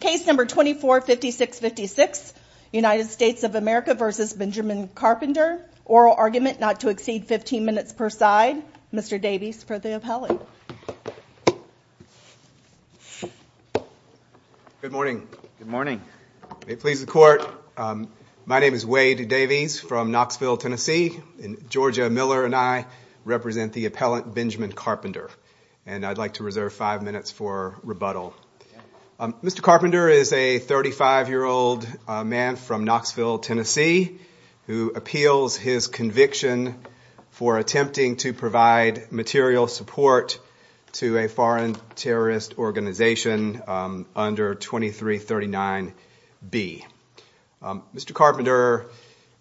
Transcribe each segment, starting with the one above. Case number 245656, United States of America versus Benjamin Carpenter. Oral argument not to exceed 15 minutes per side. Mr. Davies for the appellate. Good morning. Good morning. May it please the court. My name is Wade Davies from Knoxville, Tennessee. And Georgia Miller and I represent the appellant Benjamin Carpenter. And I'd like to reserve five minutes for rebuttal. Mr. Carpenter is a 35-year-old man from Knoxville, Tennessee, who appeals his conviction for attempting to provide material support to a foreign terrorist organization under 2339B. Mr. Carpenter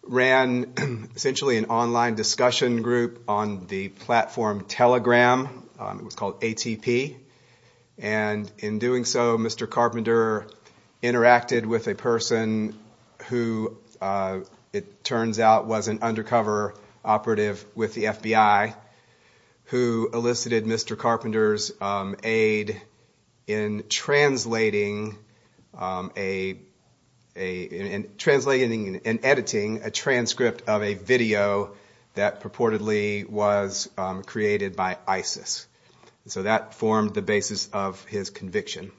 ran, essentially, an online discussion group on the platform Telegram. It was called ATP. And in doing so, Mr. Carpenter interacted with a person who, it turns out, was an undercover operative with the FBI who elicited Mr. Carpenter's aid in translating and editing a transcript of a video that purportedly was created by ISIS. So that formed the basis of his conviction.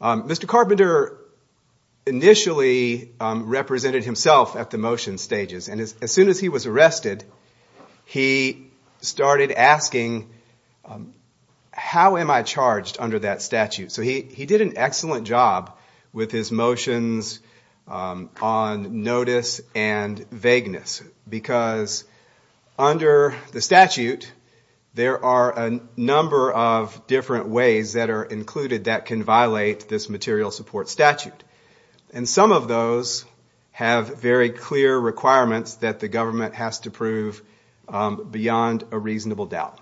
Mr. Carpenter initially represented himself at the motion stages. And as soon as he was arrested, he started asking, how am I charged under that statute? So he did an excellent job with his motions on notice and vagueness. Because under the statute, there are a number of different ways that are included that can violate this material support statute. And some of those have very clear requirements that the government has to prove beyond a reasonable doubt.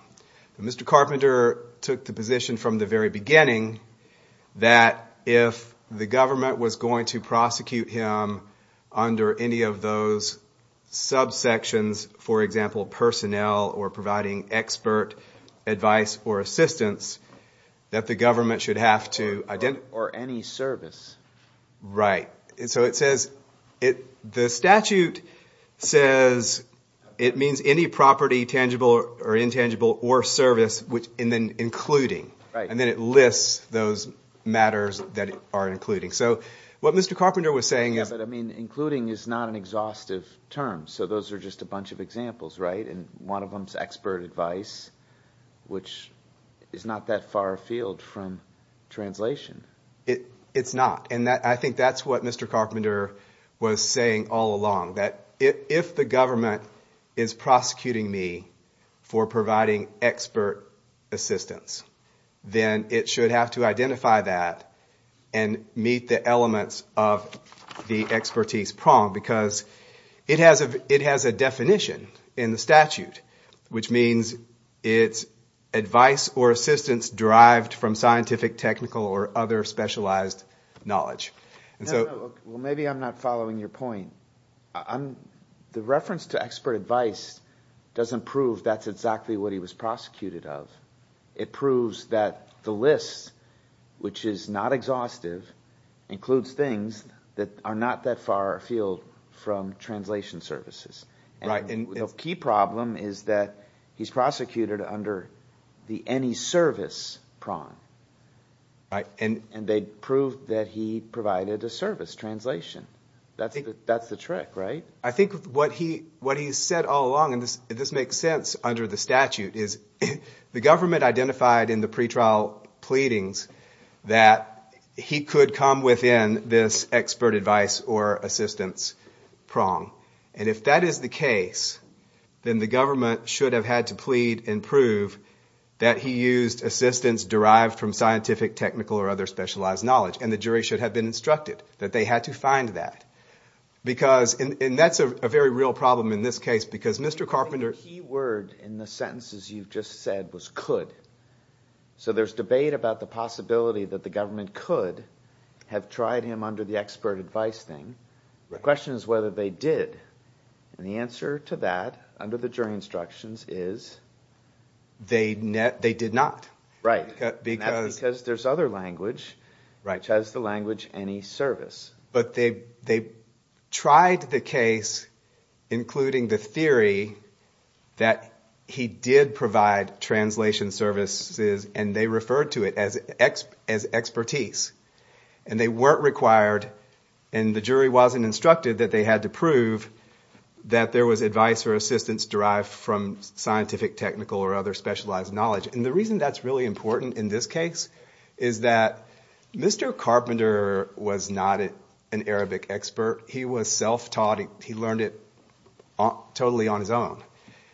Mr. Carpenter took the position from the very beginning that if the government was going to prosecute him under any of those subsections, for example, personnel or providing expert advice or assistance, that the government should have to identify. Or any service. Right. So the statute says it means any property, tangible or intangible, or service, and then including. And then it lists those matters that are including. So what Mr. Carpenter was saying is that, I mean, including is not an exhaustive term. So those are just a bunch of examples, right? And one of them is expert advice, which is not that far afield from translation. It's not. And I think that's what Mr. Carpenter was saying all along. That if the government is prosecuting me for providing expert assistance, then it should have to identify that and meet the elements of the expertise prong. Because it has a definition in the statute, which means it's advice or assistance derived from scientific, technical, or other specialized knowledge. Well, maybe I'm not following your point. The reference to expert advice doesn't prove that's exactly what he was prosecuted of. It proves that the list, which is not exhaustive, includes things that are not that far afield from translation services. And the key problem is that he's prosecuted under the any service prong. And they proved that he provided a service translation. That's the trick, right? I think what he has said all along, and this makes sense under the statute, is the government identified in the pretrial pleadings that he could come within this expert advice or assistance prong. And if that is the case, then the government should have had to plead and prove that he used assistance derived from scientific, technical, or other specialized knowledge. And the jury should have been instructed that they had to find that. Because, and that's a very real problem in this case. Because Mr. Carpenter. I think the key word in the sentences you've just said was could. So there's debate about the possibility that the government could have tried him under the expert advice thing. The question is whether they did. And the answer to that, under the jury instructions, is they did not. Right. Because there's other language, which has the language any service. But they tried the case, including the theory that he did provide translation services. And they referred to it as expertise. And they weren't required. And the jury wasn't instructed that they had to prove that there was advice or assistance derived from scientific, technical, or other specialized knowledge. And the reason that's really important in this case is that Mr. Carpenter was not an Arabic expert. He was self-taught. He learned it totally on his own.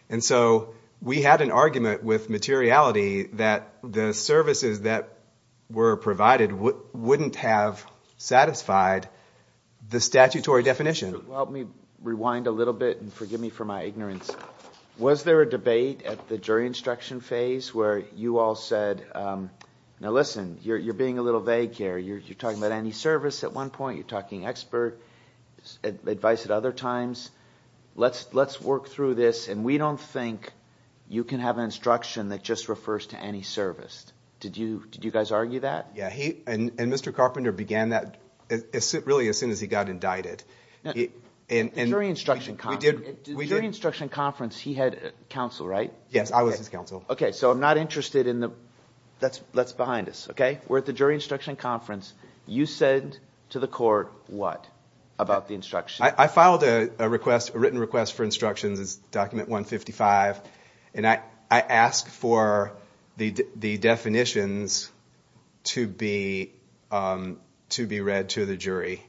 And so we had an argument with materiality that the services that were provided wouldn't have satisfied the statutory definition. Let me rewind a little bit and forgive me for my ignorance. Was there a debate at the jury instruction phase where you all said, now listen, you're being a little vague here. You're talking about any service at one point. You're talking expert advice at other times. Let's work through this. And we don't think you can have an instruction that just refers to any service. Did you guys argue that? Yeah. And Mr. Carpenter began that really as soon as he got indicted. The jury instruction conference, he had counsel, right? Yes, I was his counsel. OK, so I'm not interested in the, that's behind us, OK? We're at the jury instruction conference. You said to the court what about the instruction? I filed a written request for instructions. It's document 155. And I asked for the definitions to be read to the jury.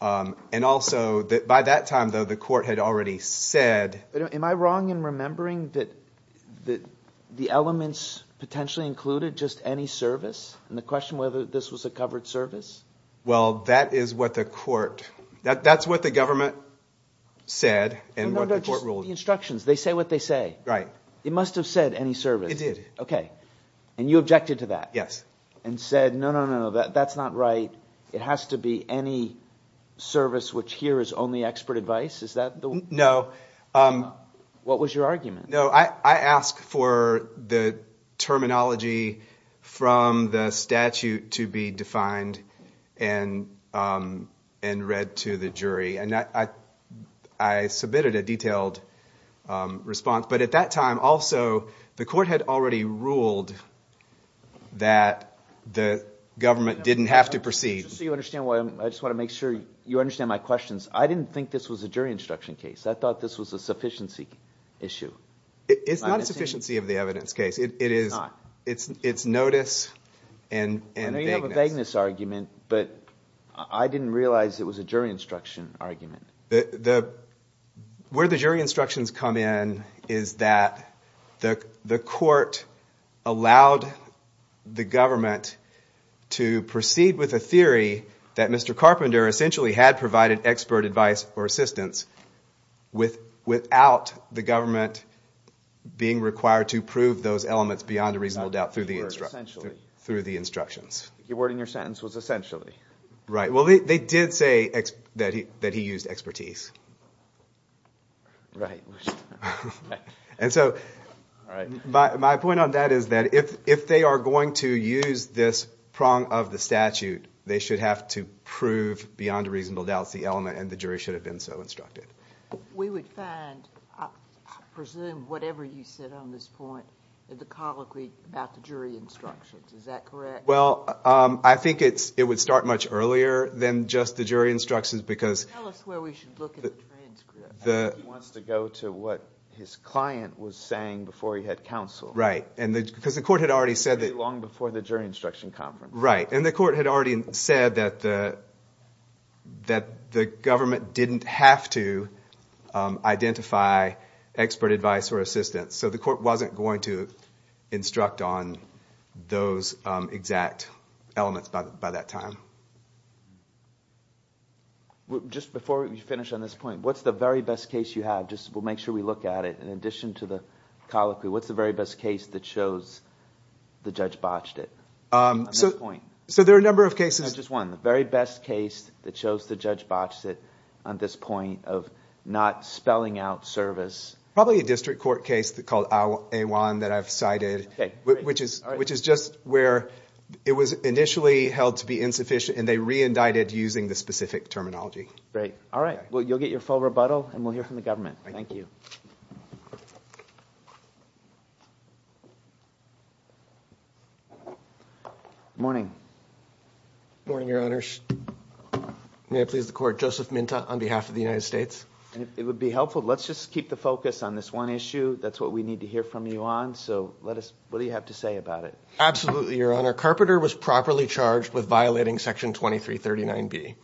And also, by that time, though, the court had already said. Am I wrong in remembering that the elements potentially included just any service? And the question whether this was a covered service? Well, that is what the court, that's what the government said. And what the court ruled. The instructions, they say what they say. Right. It must have said any service. It did. OK. And you objected to that? Yes. And said, no, no, no, no, that's not right. It has to be any service, which here is only expert advice. Is that the one? No. What was your argument? No, I asked for the terminology from the statute to be defined and read to the jury. And I submitted a detailed response. But at that time, also, the court had already ruled that the government didn't have to proceed. Just so you understand, I just want to make sure you understand my questions. I didn't think this was a jury instruction case. I thought this was a sufficiency issue. It's not a sufficiency of the evidence case. It is not. It's notice and vagueness. I know you have a vagueness argument. But I didn't realize it was a jury instruction argument. Where the jury instructions come in is that the court allowed the government to proceed with a theory that Mr. Carpenter essentially had provided expert advice or assistance without the government being required to prove those elements beyond a reasonable doubt through the instructions. Your word in your sentence was essentially. Right. Well, they did say that he used expertise. Right. And so my point on that is that if they are going to use this prong of the statute, they should have to prove beyond a reasonable doubt the element. And the jury should have been so instructed. We would find, I presume, whatever you said on this point, the colloquy about the jury instructions. Is that correct? Well, I think it would start much earlier than just the jury instructions because. Tell us where we should look at the transcript. I think he wants to go to what his client was saying before he had counsel. Right. Because the court had already said that. Long before the jury instruction conference. Right. And the court had already said that the government didn't have to identify expert advice or assistance. So the court wasn't going to instruct on those exact elements by that time. Just before we finish on this point, what's the very best case you have? Just we'll make sure we look at it. In addition to the colloquy, what's the very best case that shows the judge botched it? So there are a number of cases. Just one. The very best case that shows the judge botched it on this point of not spelling out service. Probably a district court case called A1 that I've cited, which is just where it was initially held to be insufficient and they re-indicted using the specific terminology. Great. All right. Well, you'll get your full rebuttal and we'll hear from the government. Thank you. Morning. Morning, Your Honors. May it please the court. Joseph Minta on behalf of the United States. It would be helpful. Let's just keep the focus on this one issue. That's what we need to hear from you on. So what do you have to say about it? Absolutely, Your Honor. Carpenter was properly charged with violating section 2339B.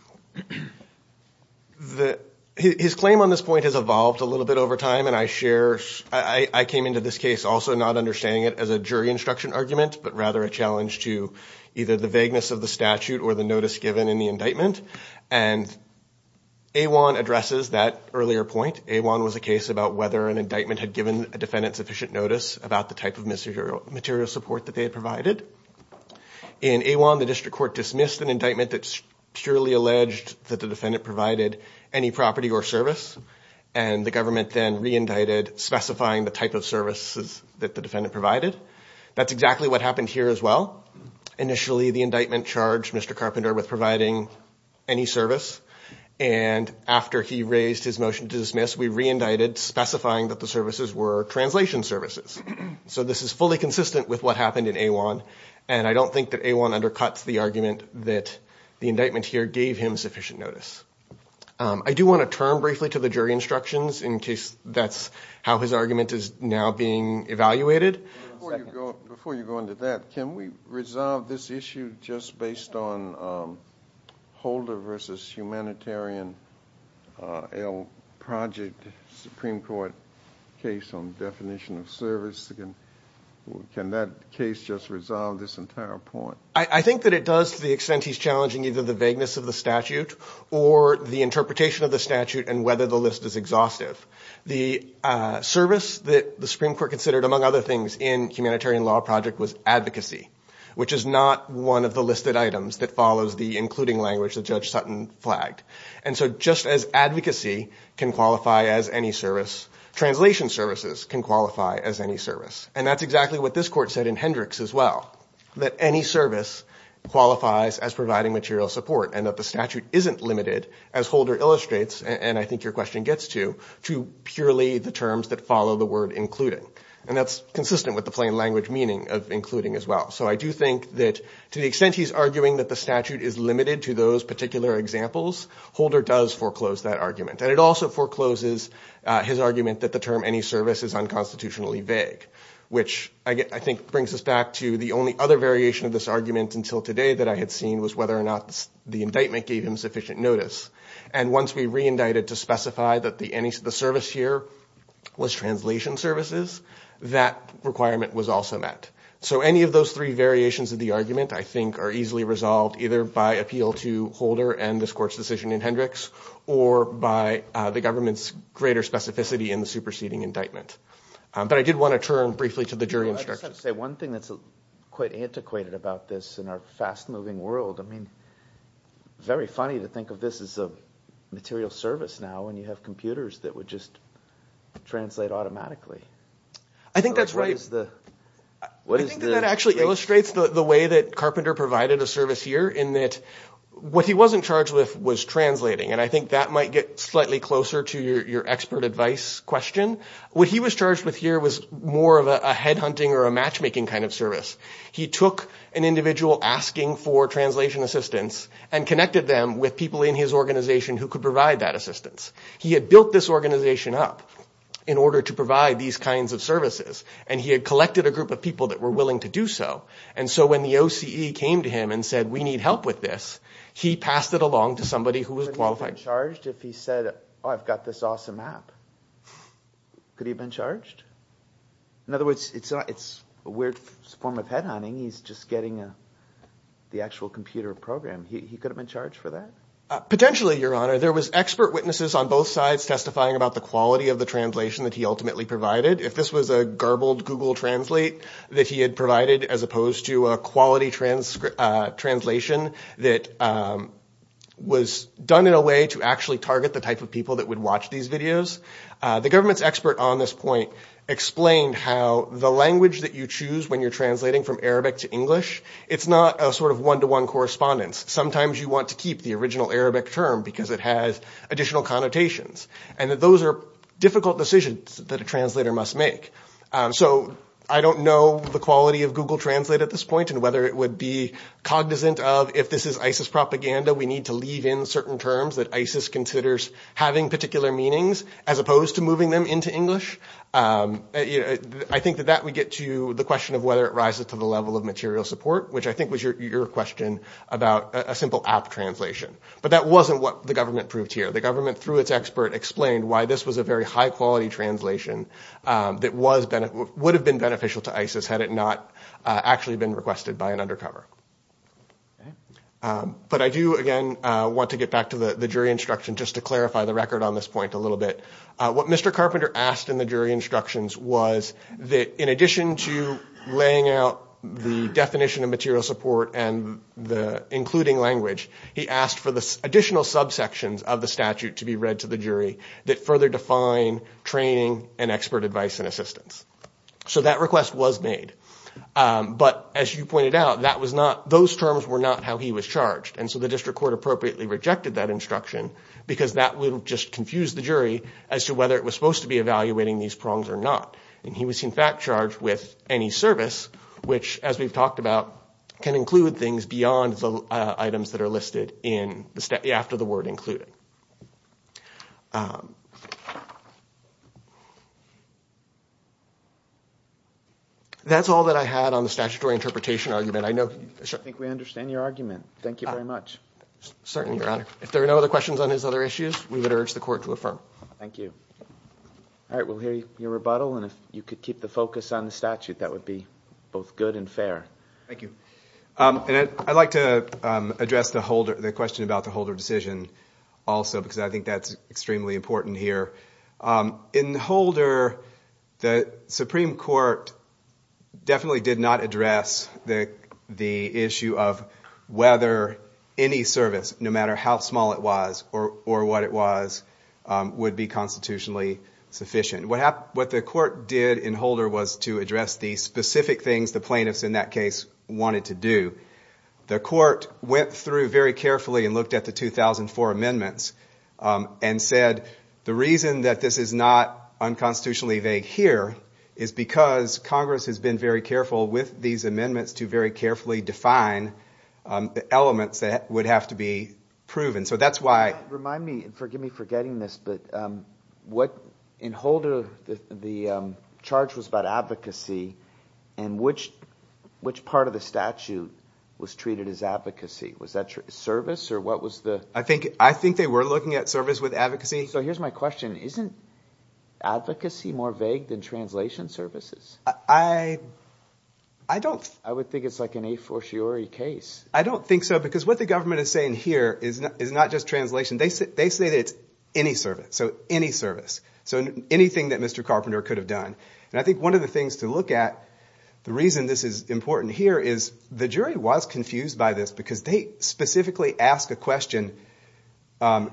His claim on this point has evolved a little bit over time. I came into this case also not understanding it as a jury instruction argument, but rather a challenge to either the vagueness of the statute or the notice given in the indictment. And A1 addresses that earlier point. A1 was a case about whether an indictment had given a defendant sufficient notice about the type of material support that they had provided. In A1, the district court dismissed an indictment that purely alleged that the defendant provided any property or service. And the government then re-indicted specifying the type of services that the defendant provided. That's exactly what happened here as well. Initially, the indictment charged Mr. Carpenter with providing any service. And after he raised his motion to dismiss, we re-indicted specifying that the services were translation services. So this is fully consistent with what happened in A1. And I don't think that A1 undercuts the argument that the indictment here gave him sufficient notice. I do want to turn briefly to the jury instructions in case that's how his argument is now being evaluated. Before you go into that, can we resolve this issue just based on Holder versus Humanitarian Project Supreme Court case on definition of service? Can that case just resolve this entire point? I think that it does to the extent he's challenging either the vagueness of the statute or the interpretation of the statute and whether the list is exhaustive. The service that the Supreme Court considered, among other things, in Humanitarian Law Project was advocacy, which is not one of the listed items that follows the including language that Judge Sutton flagged. And so just as advocacy can qualify as any service, translation services can qualify as any service. And that's exactly what this court said in Hendricks as well, that any service qualifies as providing material support and that the statute isn't limited, as Holder illustrates, and I think your question gets to, to purely the terms that follow the word including. And that's consistent with the plain language meaning of including as well. So I do think that to the extent he's arguing that the statute is limited to those particular examples, Holder does foreclose that argument. And it also forecloses his argument that the term any service is unconstitutionally vague, which I think brings us back to the only other variation of this argument until today that I had seen was whether or not the indictment gave him sufficient notice. And once we re-indicted to specify that the service here was translation services, that requirement was also met. So any of those three variations of the argument, I think, are easily resolved either by appeal to Holder and this court's decision in Hendricks or by the government's greater specificity in the superseding indictment. But I did want to turn briefly to the jury instructions. I just have to say one thing that's quite antiquated about this in our fast-moving world. I mean, very funny to think of this as a material service now when you have computers that would just translate automatically. I think that's right. I think that actually illustrates the way that Carpenter provided a service here in that what he wasn't charged with was translating. And I think that might get slightly closer to your expert advice question. What he was charged with here was more of a headhunting or a matchmaking kind of service. He took an individual asking for translation assistance and connected them with people in his organization who could provide that assistance. He had built this organization up in order to provide these kinds of services. And he had collected a group of people that were willing to do so. And so when the OCE came to him and said, we need help with this, he passed it along to somebody who was qualified. Could he have been charged if he said, I've got this awesome app? Could he have been charged? In other words, it's a weird form of headhunting. He's just getting the actual computer program. He could have been charged for that? Potentially, Your Honor. There was expert witnesses on both sides testifying about the quality of the translation that he ultimately provided. If this was a garbled Google Translate that he had provided as opposed to a quality translation that was done in a way to actually target the type of people that would watch these videos, the government's expert on this point explained how the language that you choose when you're translating from Arabic to English, it's not a sort of one-to-one correspondence. Sometimes you want to keep the original Arabic term because it has additional connotations. And that those are difficult decisions that a translator must make. So I don't know the quality of Google Translate at this point and whether it would be cognizant of, if this is ISIS propaganda, we need to leave in certain terms that ISIS considers having particular meanings as opposed to moving them into English. I think that that would get to the question of whether it rises to the level of material support, which I think was your question about a simple app translation. But that wasn't what the government proved here. The government, through its expert, explained why this was a very high-quality translation that would have been beneficial to ISIS had it not actually been requested by an undercover. But I do, again, want to get back to the jury instruction just to clarify the record on this point a little bit. What Mr. Carpenter asked in the jury instructions was that, in addition to laying out the definition of material support and including language, he asked for the additional subsections of the statute to be read to the jury that further define training and expert advice and assistance. So that request was made. But as you pointed out, those terms were not how he was charged. And so the district court appropriately rejected that instruction, because that would have just confused the jury as to whether it was supposed to be evaluating these prongs or not. And he was, in fact, charged with any service, which, as we've talked about, can include things beyond the items that are listed after the word included. That's all that I had on the statutory interpretation argument. I know, sir? I think we understand your argument. Thank you very much. Certainly, Your Honor. If there are no other questions on his other issues, we would urge the court to affirm. Thank you. All right, we'll hear your rebuttal. And if you could keep the focus on the statute, that would be both good and fair. Thank you. I'd like to address the question about the Holder decision also, because I think that's extremely important here. In the Holder, the Supreme Court definitely did not address the issue of whether any service, no matter how small it was or what it was, would be constitutionally sufficient. What the court did in Holder was to address the specific things the plaintiffs, in that case, wanted to do. The court went through very carefully and looked at the 2004 amendments and said, the reason that this is not unconstitutionally vague here is because Congress has been very careful with these amendments to very carefully define the elements that would have to be proven. So that's why. Remind me, and forgive me for getting this, but in Holder, the charge was about advocacy. And which part of the statute was treated as advocacy? Was that service, or what was the? I think they were looking at service with advocacy. So here's my question. Isn't advocacy more vague than translation services? I would think it's like an a fortiori case. I don't think so, because what the government is saying here is not just translation. They say that it's any service, so any service, so anything that Mr. Carpenter could have done. And I think one of the things to look at, the reason this is important here, is the jury was confused by this, because they specifically ask a question,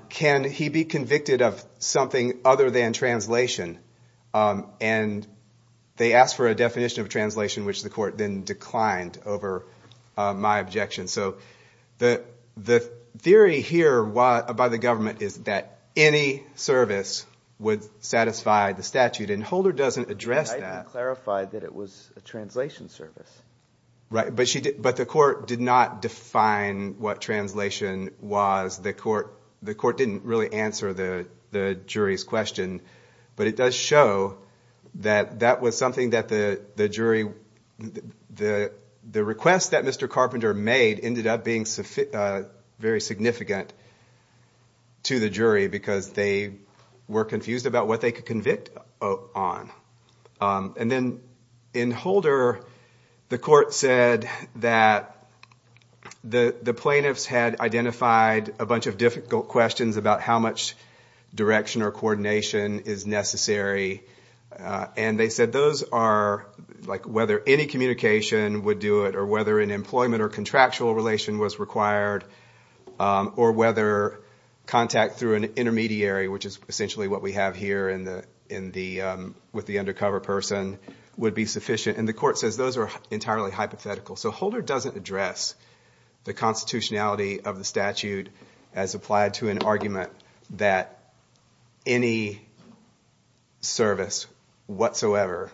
can he be convicted of something other than translation? And they asked for a definition of translation, which the court then declined over my objection. So the theory here by the government is that any service would satisfy the statute. And Holder doesn't address that. I think it clarified that it was a translation service. Right, but the court did not define what translation was The court didn't really answer the jury's question, but it does show that that was something that the request that Mr. Carpenter made ended up being very significant to the jury, because they were confused about what they could convict on. And then in Holder, the court said that the plaintiffs had identified a bunch of difficult questions about how much direction or coordination is necessary. And they said whether any communication would do it, or whether an employment or contractual relation was required, or whether contact through an intermediary, which is essentially what we have here with the undercover person, would be sufficient. And the court says those are entirely hypothetical. So Holder doesn't address the constitutionality of the statute as applied to an argument that any service whatsoever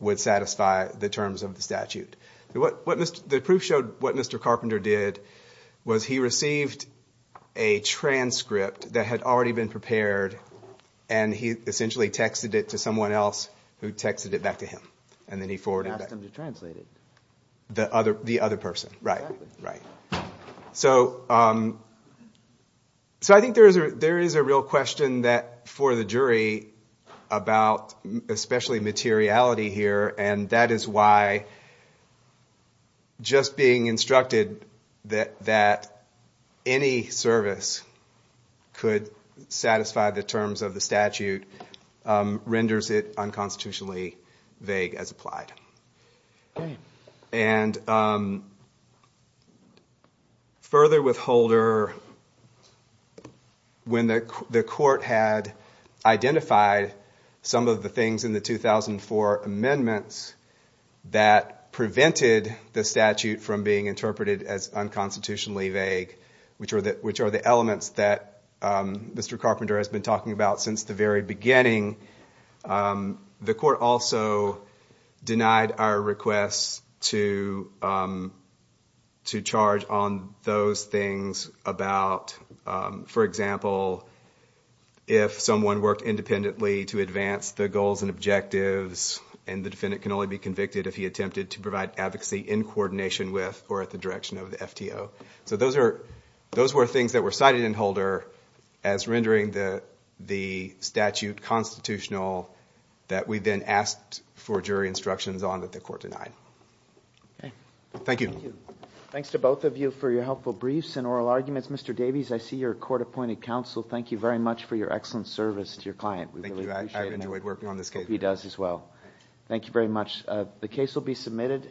would satisfy the terms of the statute. The proof showed what Mr. Carpenter did was he received a transcript that had already been prepared, and he essentially texted it to someone else who texted it back to him. And then he forwarded it back. He sent him to translate it. The other person, right. So I think there is a real question for the jury about especially materiality here. And that is why just being instructed that any service could satisfy the terms of the statute renders it unconstitutionally vague as applied. And further with Holder, when the court had identified some of the things in the 2004 amendments that prevented the statute from being interpreted as unconstitutionally vague, which are the elements that Mr. Carpenter has been talking about since the very beginning, the court also denied our request to charge on those things about, for example, if someone worked independently to advance the goals and objectives, and the defendant can only be convicted if he attempted to provide advocacy in coordination with or at the direction of the FTO. So those were things that were cited in Holder as rendering the statute constitutional that we then asked for jury instructions on that the court denied. Thank you. Thanks to both of you for your helpful briefs and oral arguments. Mr. Davies, I see you're a court-appointed counsel. Thank you very much for your excellent service to your client. Thank you. I've enjoyed working on this case. I hope he does as well. Thank you very much. The case will be submitted.